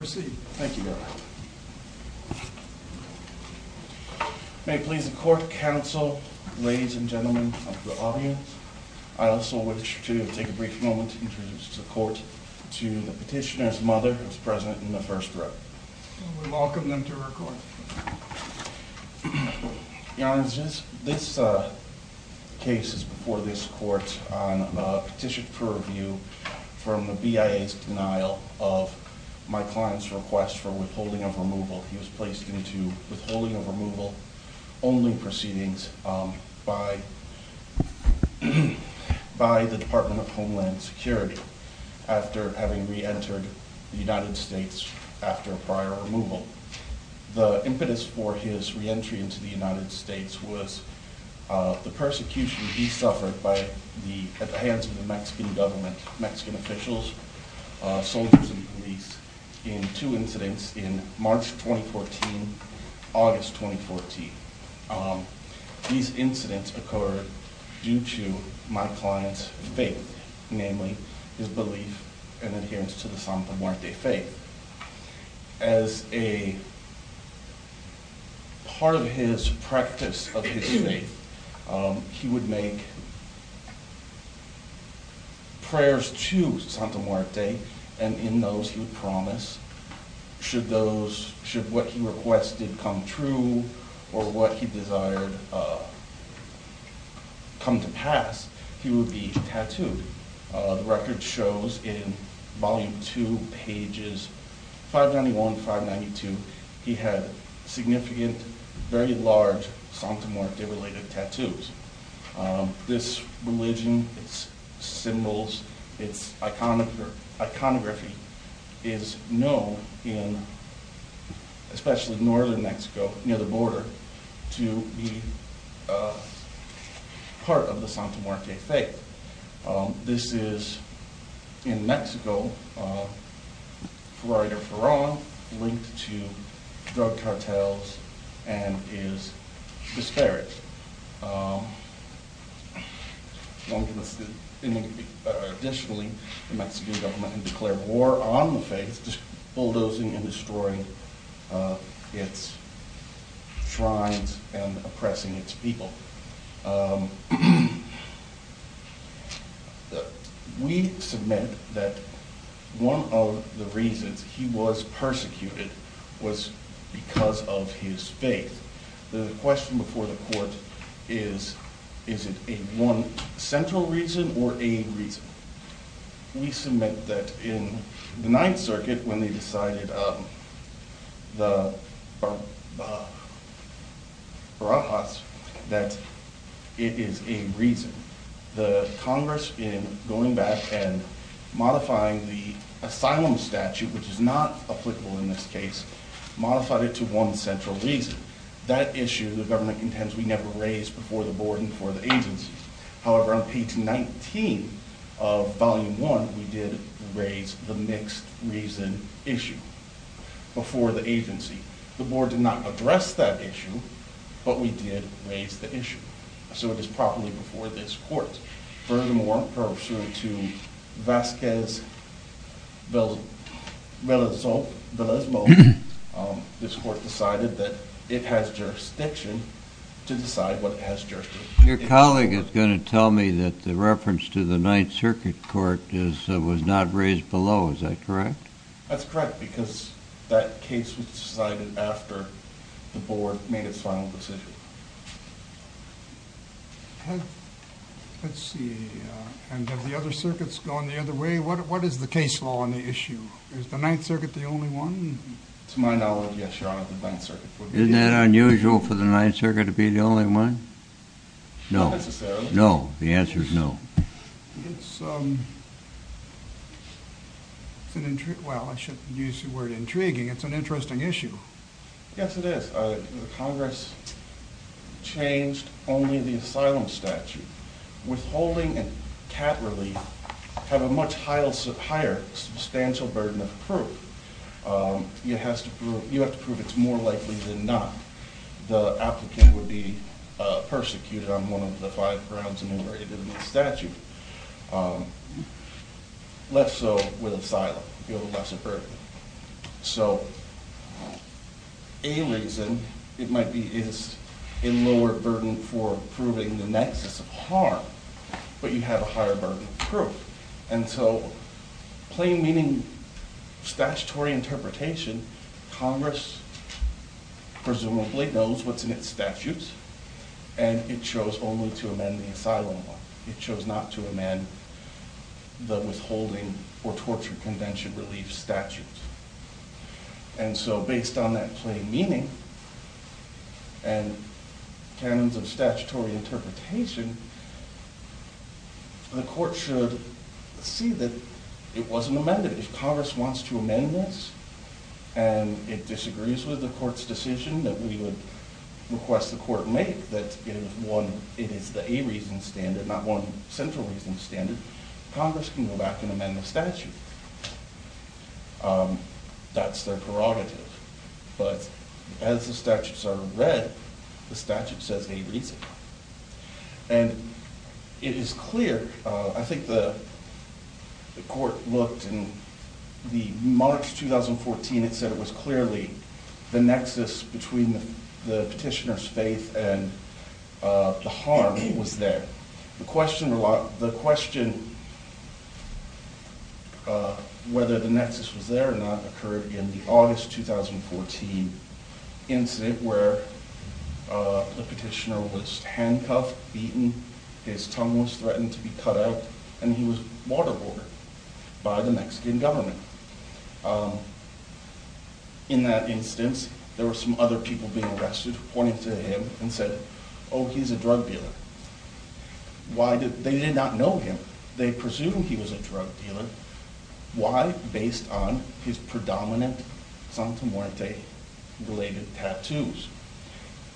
May it please the court, counsel, ladies and gentlemen of the audience, I also wish to take a brief moment to introduce the court to the petitioner's mother, who is present in the first row. We welcome them to her court. Your Honor, this case is before this court on a petition for review from the BIA's denial of my client's request for withholding of removal. He was placed into withholding of removal only proceedings by the Department of Homeland Security after having re-entered the United States after prior removal. The impetus for his re-entry into the United States was the persecution he suffered at the hands of the Mexican government, Mexican officials, soldiers, and police in two incidents in March 2014 and August 2014. These incidents occurred due to my client's faith, namely his belief and adherence to the Santa Muerte faith. As a part of his practice of his faith, he would make prayers to Santa Muerte, and in those he would promise, should what he requested come true or what he desired come to pass, he would be tattooed. The record shows in Volume 2, pages 591-592, he had significant, very large Santa Muerte-related tattoos. This religion, its symbols, its iconography is known, especially in northern Mexico near the border, to be part of the Santa Muerte faith. This is, in Mexico, for right or for wrong, linked to drug cartels and is disparaged. Additionally, the Mexican government had declared war on the faith, bulldozing and destroying its shrines and oppressing its people. We submit that one of the reasons he was persecuted was because of his faith. The question before the court is, is it a one central reason or a reason? We submit that in the Ninth Circuit, when they decided the Barajas, that it is a reason. The Congress, in going back and modifying the asylum statute, which is not applicable in this case, modified it to one central reason. That issue, the government contends, we never raised before the board and before the agency. However, on page 19 of Volume 1, we did raise the mixed reason issue before the agency. The board did not address that issue, but we did raise the issue. Furthermore, pursuant to Vasquez-Velezmo, this court decided that it has jurisdiction to decide what it has jurisdiction. Your colleague is going to tell me that the reference to the Ninth Circuit Court was not raised below, is that correct? That's correct, because that case was decided after the board made its final decision. Have the other circuits gone the other way? What is the case law on the issue? Is the Ninth Circuit the only one? To my knowledge, yes, Your Honor, the Ninth Circuit. Isn't that unusual for the Ninth Circuit to be the only one? Not necessarily. No, the answer is no. Well, I shouldn't use the word intriguing, it's an interesting issue. Yes, it is. Congress changed only the asylum statute. Withholding and cat relief have a much higher substantial burden of proof. You have to prove it's more likely than not the applicant would be persecuted on one of the five grounds enumerated in the statute. Less so with asylum, you have a lesser burden. So, a reason, it might be it's a lower burden for proving the nexus of harm, but you have a higher burden of proof. And so, plain meaning statutory interpretation, Congress presumably knows what's in its statutes, and it chose only to amend the asylum law. It chose not to amend the withholding or torture convention relief statutes. And so, based on that plain meaning and canons of statutory interpretation, the court should see that it wasn't amended. If Congress wants to amend this, and it disagrees with the court's decision that we would request the court make that it is the a reason standard, not one central reason standard, Congress can go back and amend the statute. That's their prerogative. But, as the statutes are read, the statute says a reason. And, it is clear, I think the court looked in the March 2014, it said it was clearly the nexus between the petitioner's faith and the harm was there. The question whether the nexus was there or not occurred in the August 2014 incident where the petitioner was handcuffed, beaten, his tongue was threatened to be cut out, and he was waterboarded by the Mexican government. In that instance, there were some other people being arrested who pointed to him and said, oh, he's a drug dealer. They did not know him. They presumed he was a drug dealer. Why? Based on his predominant Santa Muerte-related tattoos.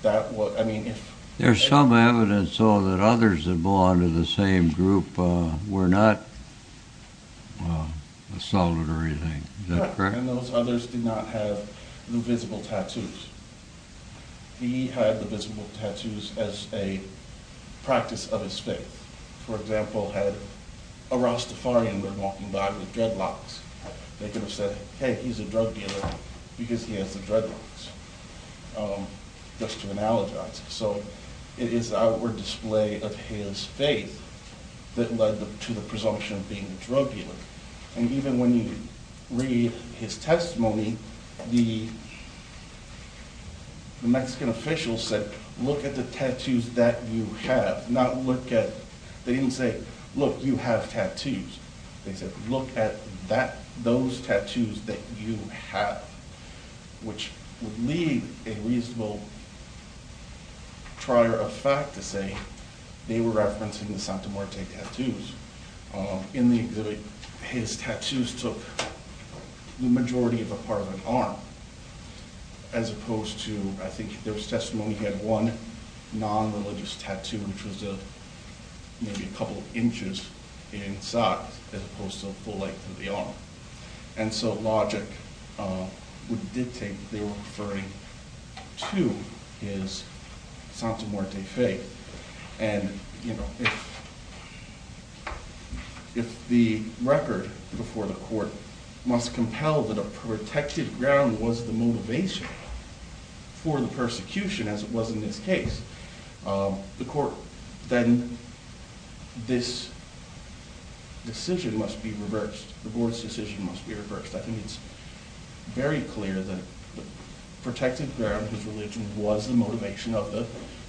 There's some evidence, though, that others that belong to the same group were not assaulted or anything. Is that correct? And those others did not have the visible tattoos. He had the visible tattoos as a practice of his faith. If, for example, a Rastafarian were walking by with dreadlocks, they could have said, hey, he's a drug dealer because he has the dreadlocks, just to analogize. So, it is our display of his faith that led to the presumption of being a drug dealer. And even when you read his testimony, the Mexican officials said, look at the tattoos that you have, not look at, they didn't say, look, you have tattoos. They said, look at those tattoos that you have, which would leave a reasonable trier of fact to say they were referencing the Santa Muerte tattoos. In the exhibit, his tattoos took the majority of a part of an arm, as opposed to, I think in his testimony, he had one non-religious tattoo, which was maybe a couple of inches in size, as opposed to the length of the arm. And so logic would dictate that they were referring to his Santa Muerte faith. And, you know, if the record before the court must compel that a protected ground was the motivation for the persecution, as it was in this case, then this decision must be reversed, the board's decision must be reversed. I think it's very clear that the protected ground, his religion, was the motivation of the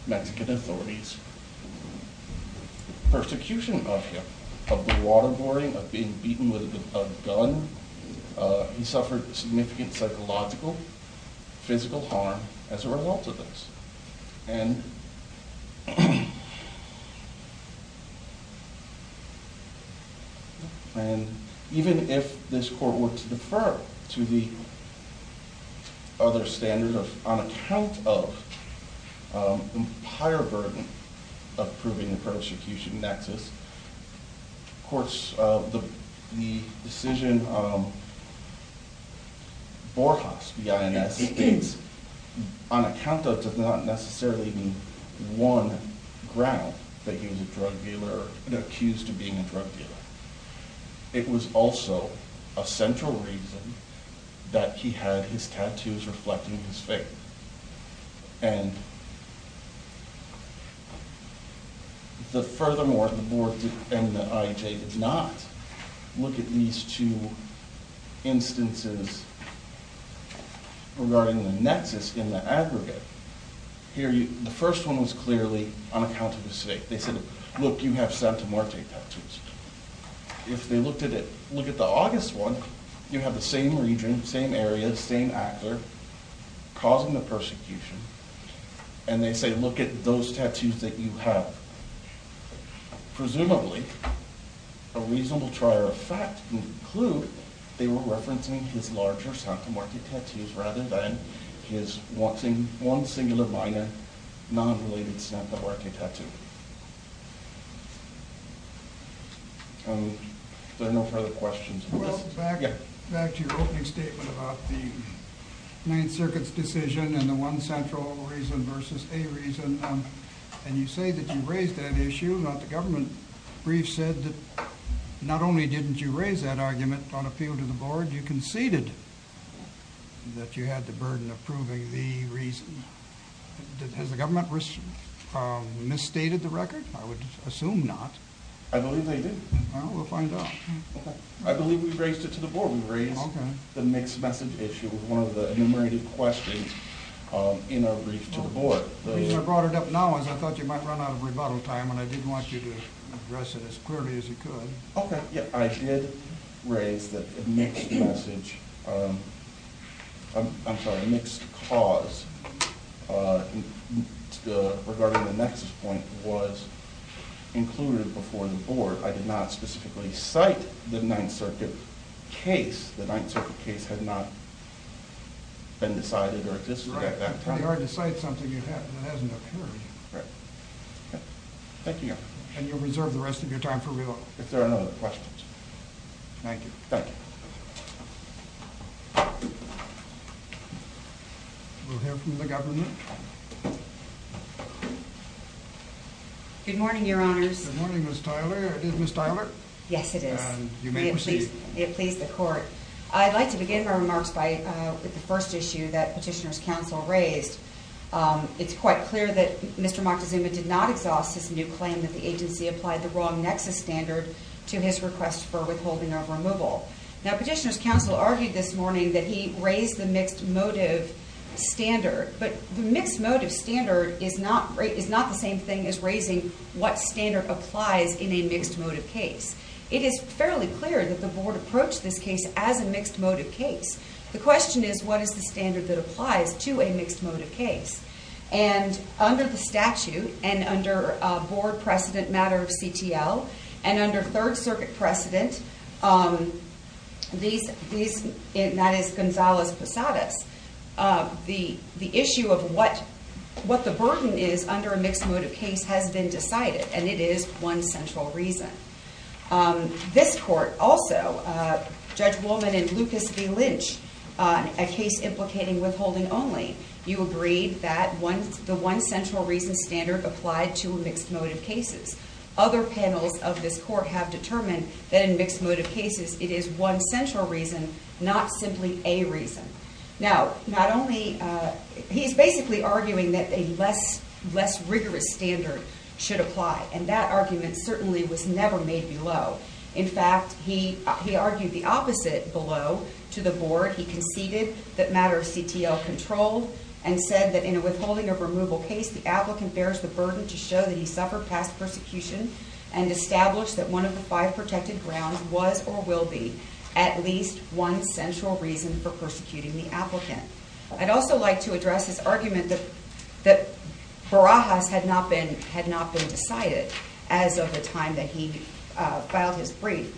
Mexican authorities. And because of this persecution of him, of the waterboarding, of being beaten with a gun, he suffered significant psychological, physical harm as a result of this. And even if this court were to defer to the other standards on account of the higher burden of proving the persecution nexus, of course, the decision Borjas, B-I-N-S, states, on account of not necessarily being one ground that he was a drug dealer or accused of being a drug dealer, it was also a central reason that he had his tattoos reflecting his faith. And furthermore, the board and the IJ did not look at these two instances regarding the nexus in the aggregate. The first one was clearly on account of his faith. They said, look, you have Santa Marte tattoos. If they looked at the August one, you have the same region, same area, same actor, causing the persecution, and they say, look at those tattoos that you have. Presumably, a reasonable trier of fact would conclude they were referencing his larger Santa Marte tattoos rather than his one singular minor, non-related Santa Marte tattoo. Are there no further questions? I would assume not. I believe they did. Well, we'll find out. I believe we raised it to the board. We raised the mixed message issue with one of the enumerated questions in our brief to the board. The reason I brought it up now is I thought you might run out of rebuttal time, and I didn't want you to address it as clearly as you could. I did raise the mixed message, I'm sorry, mixed cause regarding the nexus point was included before the board. I did not specifically cite the Ninth Circuit case. The Ninth Circuit case had not been decided or existed. It's pretty hard to cite something that hasn't occurred. Right. Thank you. And you'll reserve the rest of your time for rebuttal. If there are no other questions. Thank you. Thank you. We'll hear from the government. Good morning, your honors. Good morning, Ms. Tyler. Is it Ms. Tyler? Yes, it is. And you may proceed. May it please the court. I'd like to begin my remarks with the first issue that Petitioner's Counsel raised. It's quite clear that Mr. Moctezuma did not exhaust his new claim that the agency applied the wrong nexus standard to his request for withholding of removal. Now, Petitioner's Counsel argued this morning that he raised the mixed motive standard, but the mixed motive standard is not the same thing as raising what standard applies in a mixed motive case. It is fairly clear that the board approached this case as a mixed motive case. The question is, what is the standard that applies to a mixed motive case? And under the statute, and under board precedent matter of CTL, and under Third Circuit precedent, that is Gonzales-Posadas, the issue of what the burden is under a mixed motive case has been decided. And it is one central reason. This court also, Judge Woolman and Lucas B. Lynch, a case implicating withholding only, you agreed that the one central reason standard applied to mixed motive cases. Other panels of this court have determined that in mixed motive cases, it is one central reason, not simply a reason. Now, not only, he's basically arguing that a less rigorous standard should apply. And that argument certainly was never made below. In fact, he argued the opposite below to the board. He conceded that matter of CTL controlled and said that in a withholding of removal case, the applicant bears the burden to show that he suffered past persecution and established that one of the five protected grounds was or will be at least one central reason for persecuting the applicant. I'd also like to address his argument that Barajas had not been decided as of the time that he filed his brief.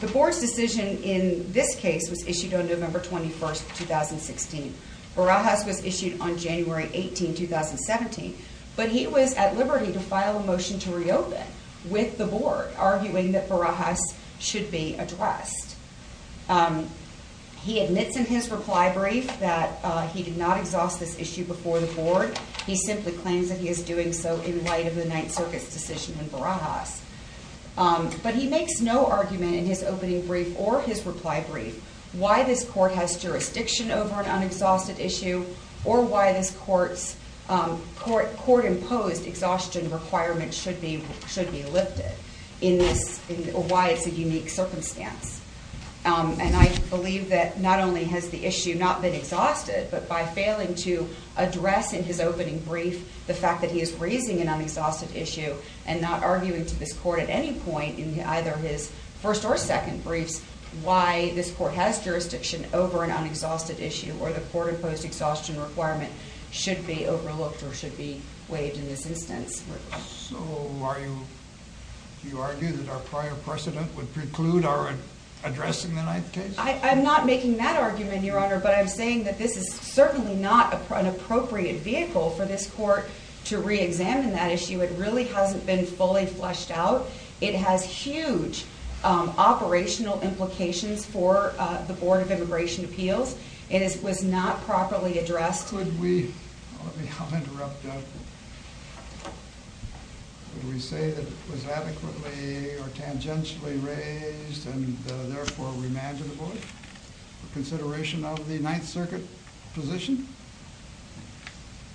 The board's decision in this case was issued on November 21, 2016. Barajas was issued on January 18, 2017. But he was at liberty to file a motion to reopen with the board, arguing that Barajas should be addressed. He admits in his reply brief that he did not exhaust this issue before the board. He simply claims that he is doing so in light of the Ninth Circuit's decision in Barajas. But he makes no argument in his opening brief or his reply brief why this court has jurisdiction over an unexhausted issue or why this court's court-imposed exhaustion requirements should be lifted. Or why it's a unique circumstance. And I believe that not only has the issue not been exhausted, but by failing to address in his opening brief the fact that he is raising an unexhausted issue and not arguing to this court at any point in either his first or second briefs, why this court has jurisdiction over an unexhausted issue or the court-imposed exhaustion requirement should be overlooked or should be waived in this instance. So you argue that our prior precedent would preclude our addressing the Ninth case? I'm not making that argument, Your Honor. But I'm saying that this is certainly not an appropriate vehicle for this court to re-examine that issue. It really hasn't been fully fleshed out. It has huge operational implications for the Board of Immigration Appeals. It was not properly addressed. Could we say that it was adequately or tangentially raised and therefore remanded to the Board for consideration of the Ninth Circuit position?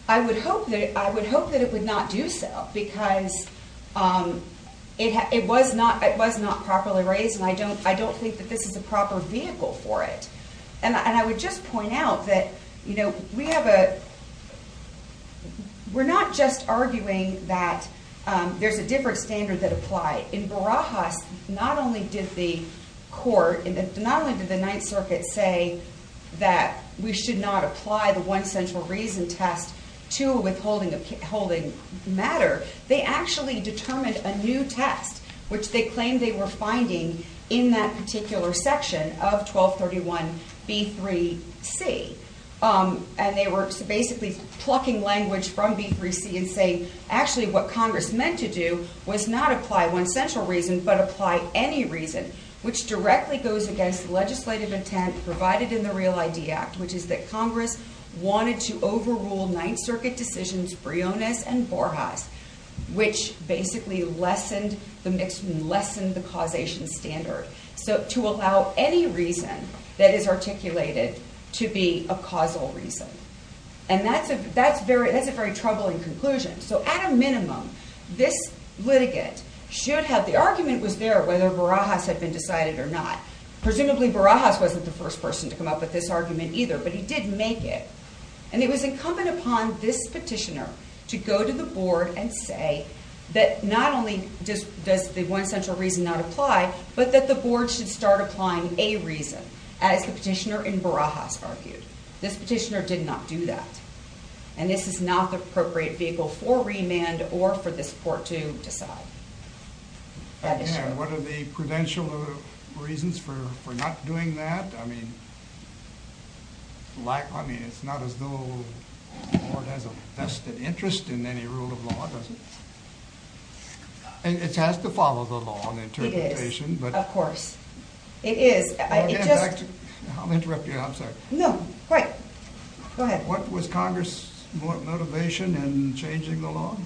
I would hope that it would not do so because it was not properly raised and I don't think that this is a proper vehicle for it. And I would just point out that we're not just arguing that there's a different standard that applies. In Barajas, not only did the Ninth Circuit say that we should not apply the one central reason test to withholding matter, they actually determined a new test, which they claimed they were finding in that particular section of 1231B3C. And they were basically plucking language from B3C and saying, actually what Congress meant to do was not apply one central reason but apply any reason, which directly goes against legislative intent provided in the Real ID Act, which is that Congress wanted to overrule Ninth Circuit decisions Briones and Borjas, which basically lessened the causation standard. So to allow any reason that is articulated to be a causal reason. And that's a very troubling conclusion. So at a minimum, this litigant should have, the argument was there whether Barajas had been decided or not. Presumably Barajas wasn't the first person to come up with this argument either, but he did make it. And it was incumbent upon this petitioner to go to the board and say that not only does the one central reason not apply, but that the board should start applying a reason, as the petitioner in Barajas argued. This petitioner did not do that. And this is not the appropriate vehicle for remand or for this court to decide. And what are the prudential reasons for not doing that? I mean, it's not as though the board has a vested interest in any rule of law, does it? It has to follow the law and interpretation. It is, of course. I'll interrupt you, I'm sorry. No, go ahead. What was Congress's motivation in changing the law?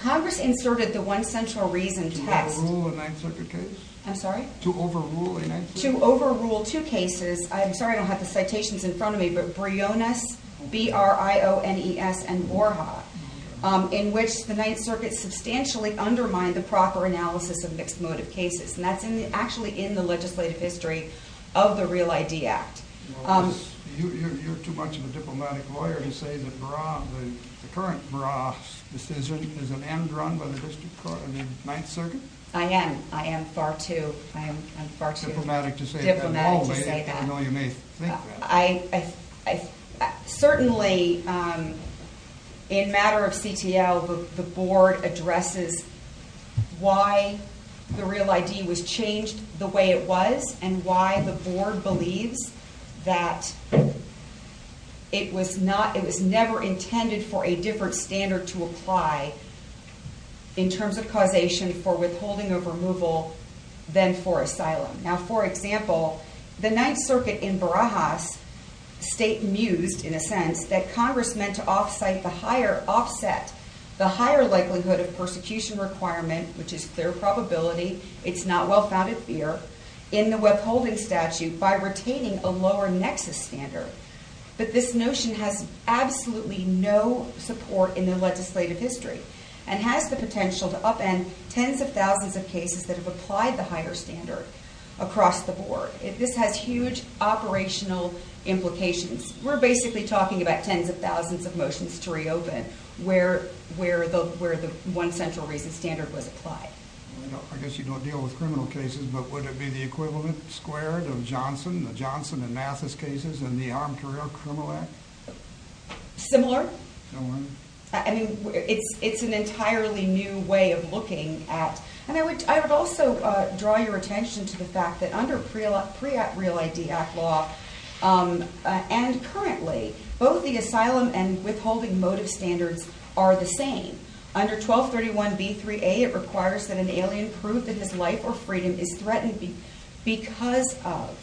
Congress inserted the one central reason text. To overrule a Ninth Circuit case? I'm sorry? To overrule a Ninth Circuit case? To overrule two cases. I'm sorry I don't have the citations in front of me, but Briones, B-R-I-O-N-E-S, and Borja, in which the Ninth Circuit substantially undermined the proper analysis of mixed motive cases. And that's actually in the legislative history of the Real ID Act. You're too much of a diplomatic lawyer to say that the current Bras decision is an end run by the district court in the Ninth Circuit? I am. I am far too diplomatic to say that. I know you may think that. Certainly, in matter of CTL, the board addresses why the Real ID was changed the way it was and why the board believes that it was never intended for a different standard to apply in terms of causation for withholding of removal than for asylum. Now, for example, the Ninth Circuit in Barajas state mused, in a sense, that Congress meant to offset the higher likelihood of persecution requirement, which is clear probability, it's not well-founded fear, in the withholding statute by retaining a lower nexus standard. But this notion has absolutely no support in the legislative history and has the potential to upend tens of thousands of cases that have applied the higher standard across the board. This has huge operational implications. We're basically talking about tens of thousands of motions to reopen where the one central reason standard was applied. I guess you don't deal with criminal cases, but would it be the equivalent squared of Johnson, the Johnson and Mathis cases in the Armed Career Criminal Act? Similar. I mean, it's an entirely new way of looking at... And I would also draw your attention to the fact that under PREACT Law and currently, both the asylum and withholding motive standards are the same. Under 1231b3a, it requires that an alien prove that his life or freedom is threatened because of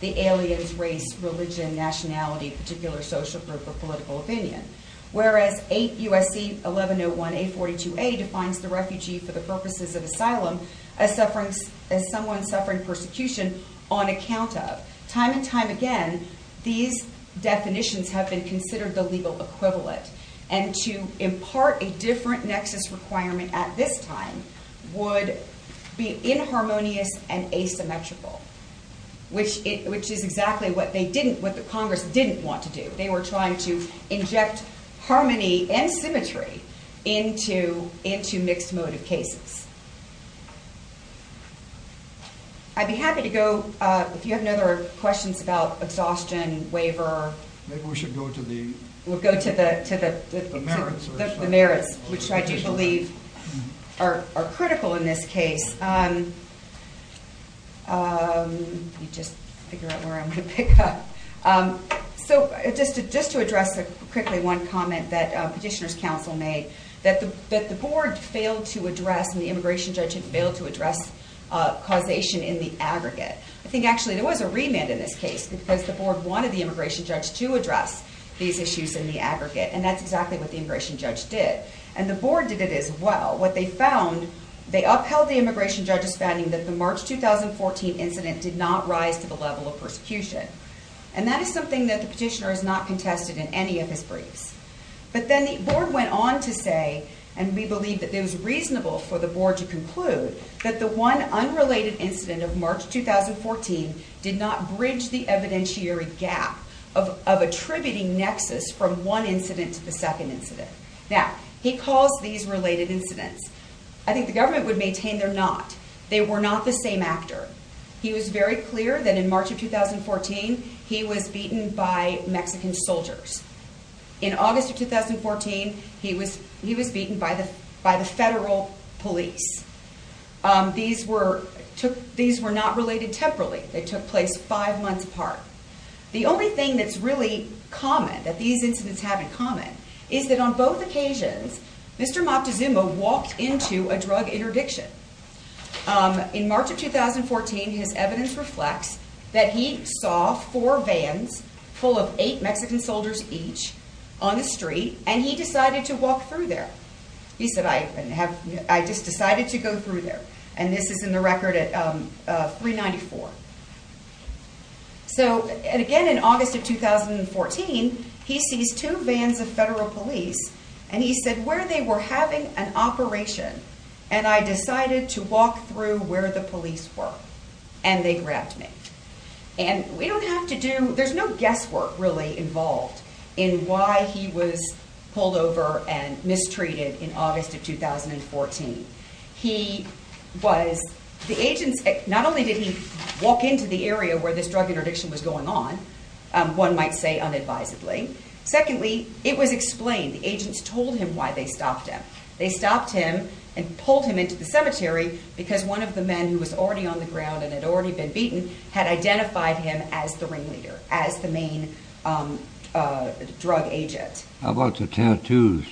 the alien's race, religion, nationality, particular social group, or political opinion. Whereas 8 U.S.C. 1101a42a defines the refugee for the purposes of asylum as someone suffering persecution on account of. Time and time again, these definitions have been considered the legal equivalent. And to impart a different nexus requirement at this time would be inharmonious and asymmetrical, which is exactly what the Congress didn't want to do. They were trying to inject harmony and symmetry into mixed motive cases. I'd be happy to go, if you have any other questions about exhaustion, waiver... Maybe we should go to the merits. The merits, which I do believe are critical in this case. Let me just figure out where I'm going to pick up. Just to address quickly one comment that Petitioner's Counsel made, that the board failed to address and the immigration judge failed to address causation in the aggregate. I think actually there was a remand in this case because the board wanted the immigration judge to address these issues in the aggregate, and that's exactly what the immigration judge did. And the board did it as well. What they found, they upheld the immigration judge's finding that the March 2014 incident did not rise to the level of persecution. And that is something that the petitioner has not contested in any of his briefs. But then the board went on to say, and we believe that it was reasonable for the board to conclude, that the one unrelated incident of March 2014 did not bridge the evidentiary gap of attributing nexus from one incident to the second incident. Now, he calls these related incidents. I think the government would maintain they're not. They were not the same actor. He was very clear that in March of 2014 he was beaten by Mexican soldiers. In August of 2014 he was beaten by the federal police. These were not related temporally. They took place five months apart. The only thing that's really common, that these incidents have in common, is that on both occasions Mr. Moctezuma walked into a drug interdiction. In March of 2014 his evidence reflects that he saw four vans full of eight Mexican soldiers each on the street and he decided to walk through there. He said, I just decided to go through there. And this is in the record at 394. So, again in August of 2014, he sees two vans of federal police and he said where they were having an operation and I decided to walk through where the police were and they grabbed me. And we don't have to do, there's no guesswork really involved in why he was pulled over and mistreated in August of 2014. He was, the agents, not only did he walk into the area where this drug interdiction was going on, one might say unadvisedly. Secondly, it was explained. The agents told him why they stopped him. They stopped him and pulled him into the cemetery because one of the men who was already on the ground and had already been beaten had identified him as the ringleader, as the main drug agent. How about the tattoos?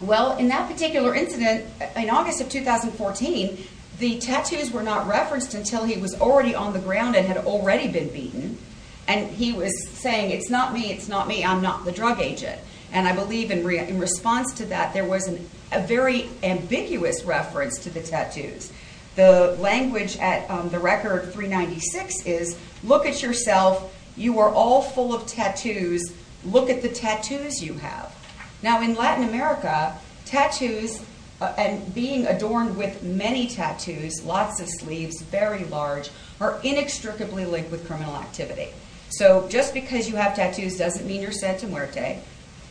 Well, in that particular incident, in August of 2014, the tattoos were not referenced until he was already on the ground and had already been beaten. And he was saying, it's not me, it's not me, I'm not the drug agent. And I believe in response to that, there was a very ambiguous reference to the tattoos. The language at the record 396 is, look at yourself, you are all full of tattoos, look at the tattoos you have. Now in Latin America, tattoos and being adorned with many tattoos, lots of sleeves, very large, are inextricably linked with criminal activity. So just because you have tattoos doesn't mean you're Santa Muerte.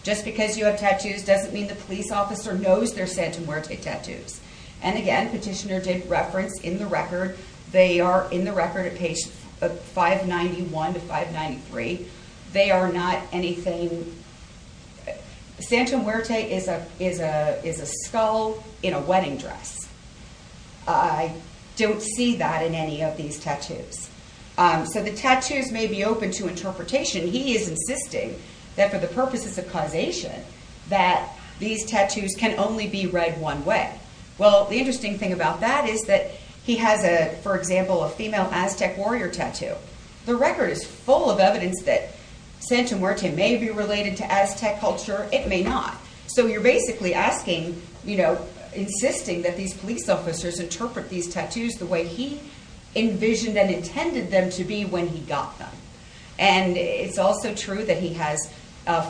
Just because you have tattoos doesn't mean the police officer knows they're Santa Muerte tattoos. And again, petitioner did reference in the record, they are in the record at page 591 to 593. They are not anything, Santa Muerte is a skull in a wedding dress. I don't see that in any of these tattoos. So the tattoos may be open to interpretation. He is insisting that for the purposes of causation that these tattoos can only be read one way. Well, the interesting thing about that is that he has, for example, a female Aztec warrior tattoo. The record is full of evidence that Santa Muerte may be related to Aztec culture, it may not. So you're basically asking, you know, envisioned and intended them to be when he got them. And it's also true that he has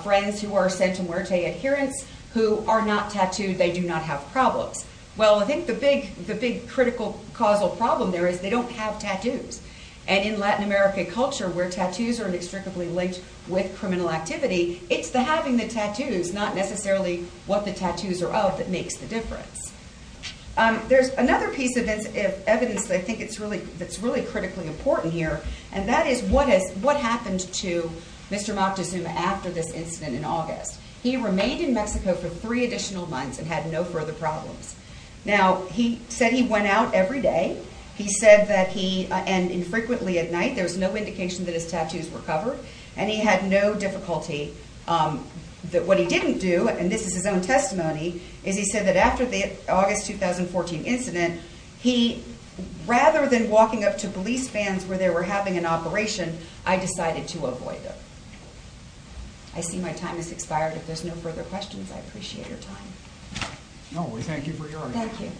friends who are Santa Muerte adherents, who are not tattooed, they do not have problems. Well, I think the big critical causal problem there is they don't have tattoos. And in Latin America culture, where tattoos are inextricably linked with criminal activity, it's the having the tattoos, not necessarily what the tattoos are of that makes the difference. There's another piece of evidence that I think that's really critically important here, and that is what happened to Mr. Moctezuma after this incident in August. He remained in Mexico for three additional months and had no further problems. Now, he said he went out every day. He said that he, and infrequently at night, there was no indication that his tattoos were covered. And he had no difficulty. But what he didn't do, and this is his own testimony, is he said that after the August 2014 incident, he, rather than walking up to police vans where they were having an operation, I decided to avoid them. I see my time has expired. If there's no further questions, I appreciate your time. No, we thank you for your time. Thank you.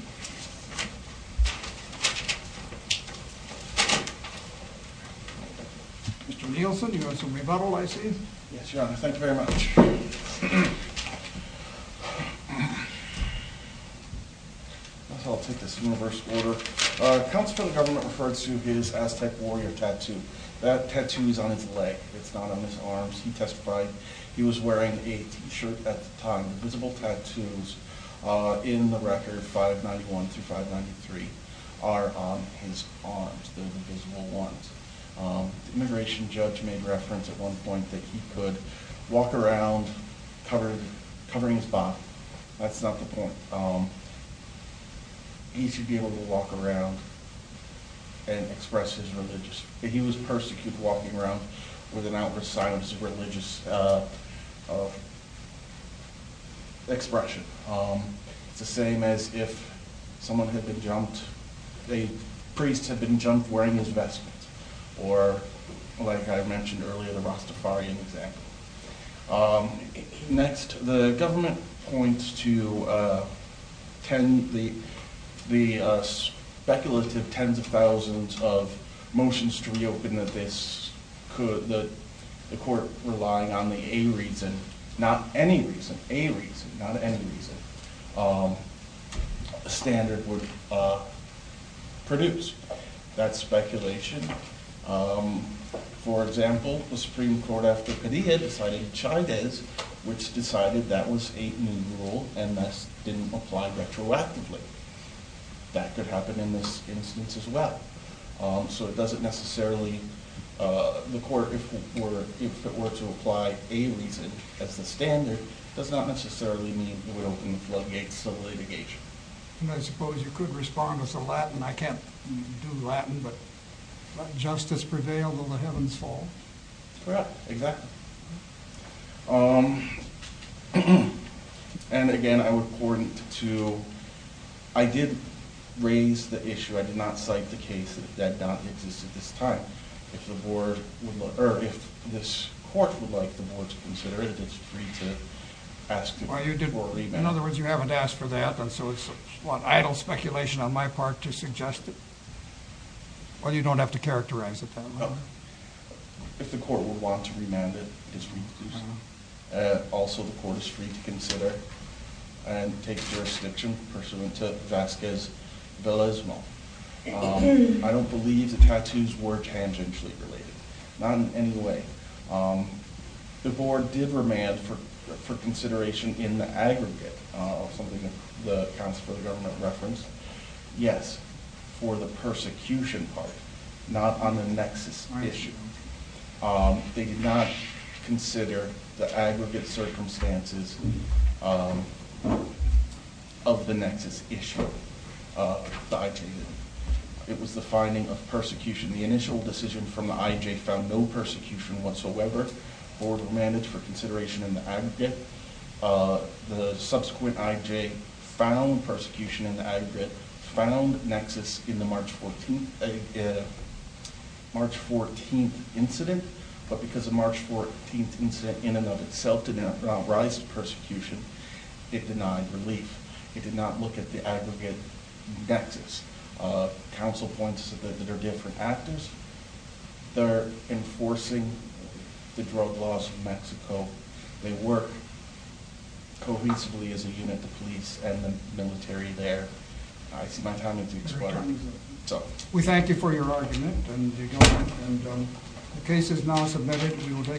Mr. Nielsen, you have some rebuttal, I see. Yes, Your Honor. Thank you very much. I'll take this in reverse order. Counsel for the government referred to his Aztec warrior tattoo. That tattoo is on his leg. It's not on his arms. He testified he was wearing a T-shirt at the time. The visible tattoos in the record 591 through 593 are on his arms. They're the visible ones. The immigration judge made reference at one point that he could walk around covering his body. That's not the point. He should be able to walk around and express his religious. He was persecuted walking around with an outward silence of religious expression. It's the same as if someone had been jumped. The priest had been jumped wearing his vestments. Or, like I mentioned earlier, the Rastafarian example. Next, the government points to the speculative tens of thousands of motions to reopen the case. The court relying on the a reason, not any reason, a reason, not any reason, a standard would produce. That's speculation. For example, the Supreme Court after Padilla decided Chavez, which decided that was a new rule and thus didn't apply retroactively. That could happen in this instance as well. So it doesn't necessarily, the court, if it were to apply a reason as the standard, it does not necessarily mean we open the floodgates of litigation. I suppose you could respond with a Latin. I can't do Latin, but let justice prevail, though the heavens fall. Correct, exactly. Again, I would point to, I did raise the issue, I did not cite the case that that does not exist at this time. If this court would like the board to consider it, it's free to ask for remand. In other words, you haven't asked for that, and so it's, what, idle speculation on my part to suggest it? Or you don't have to characterize it that way? No. If the court would want to remand it, it's free to do so. Also, the court is free to consider and take jurisdiction pursuant to Vasquez-Belismo. I don't believe the tattoos were tangentially related. Not in any way. The board did remand for consideration in the aggregate of something the Council for the Government referenced. Yes, for the persecution part, not on the nexus issue. They did not consider the aggregate circumstances of the nexus issue. The IJ did. It was the finding of persecution. The initial decision from the IJ found no persecution whatsoever. The board remanded for consideration in the aggregate. The subsequent IJ found persecution in the aggregate, found nexus in the March 14th incident. But because the March 14th incident in and of itself did not rise to persecution, it denied relief. It did not look at the aggregate nexus. Council points that there are different actors. They're enforcing the drug laws of Mexico. They work cohesively as a unit, the police and the military there. It's my time to explain. We thank you for your argument. The case is now submitted.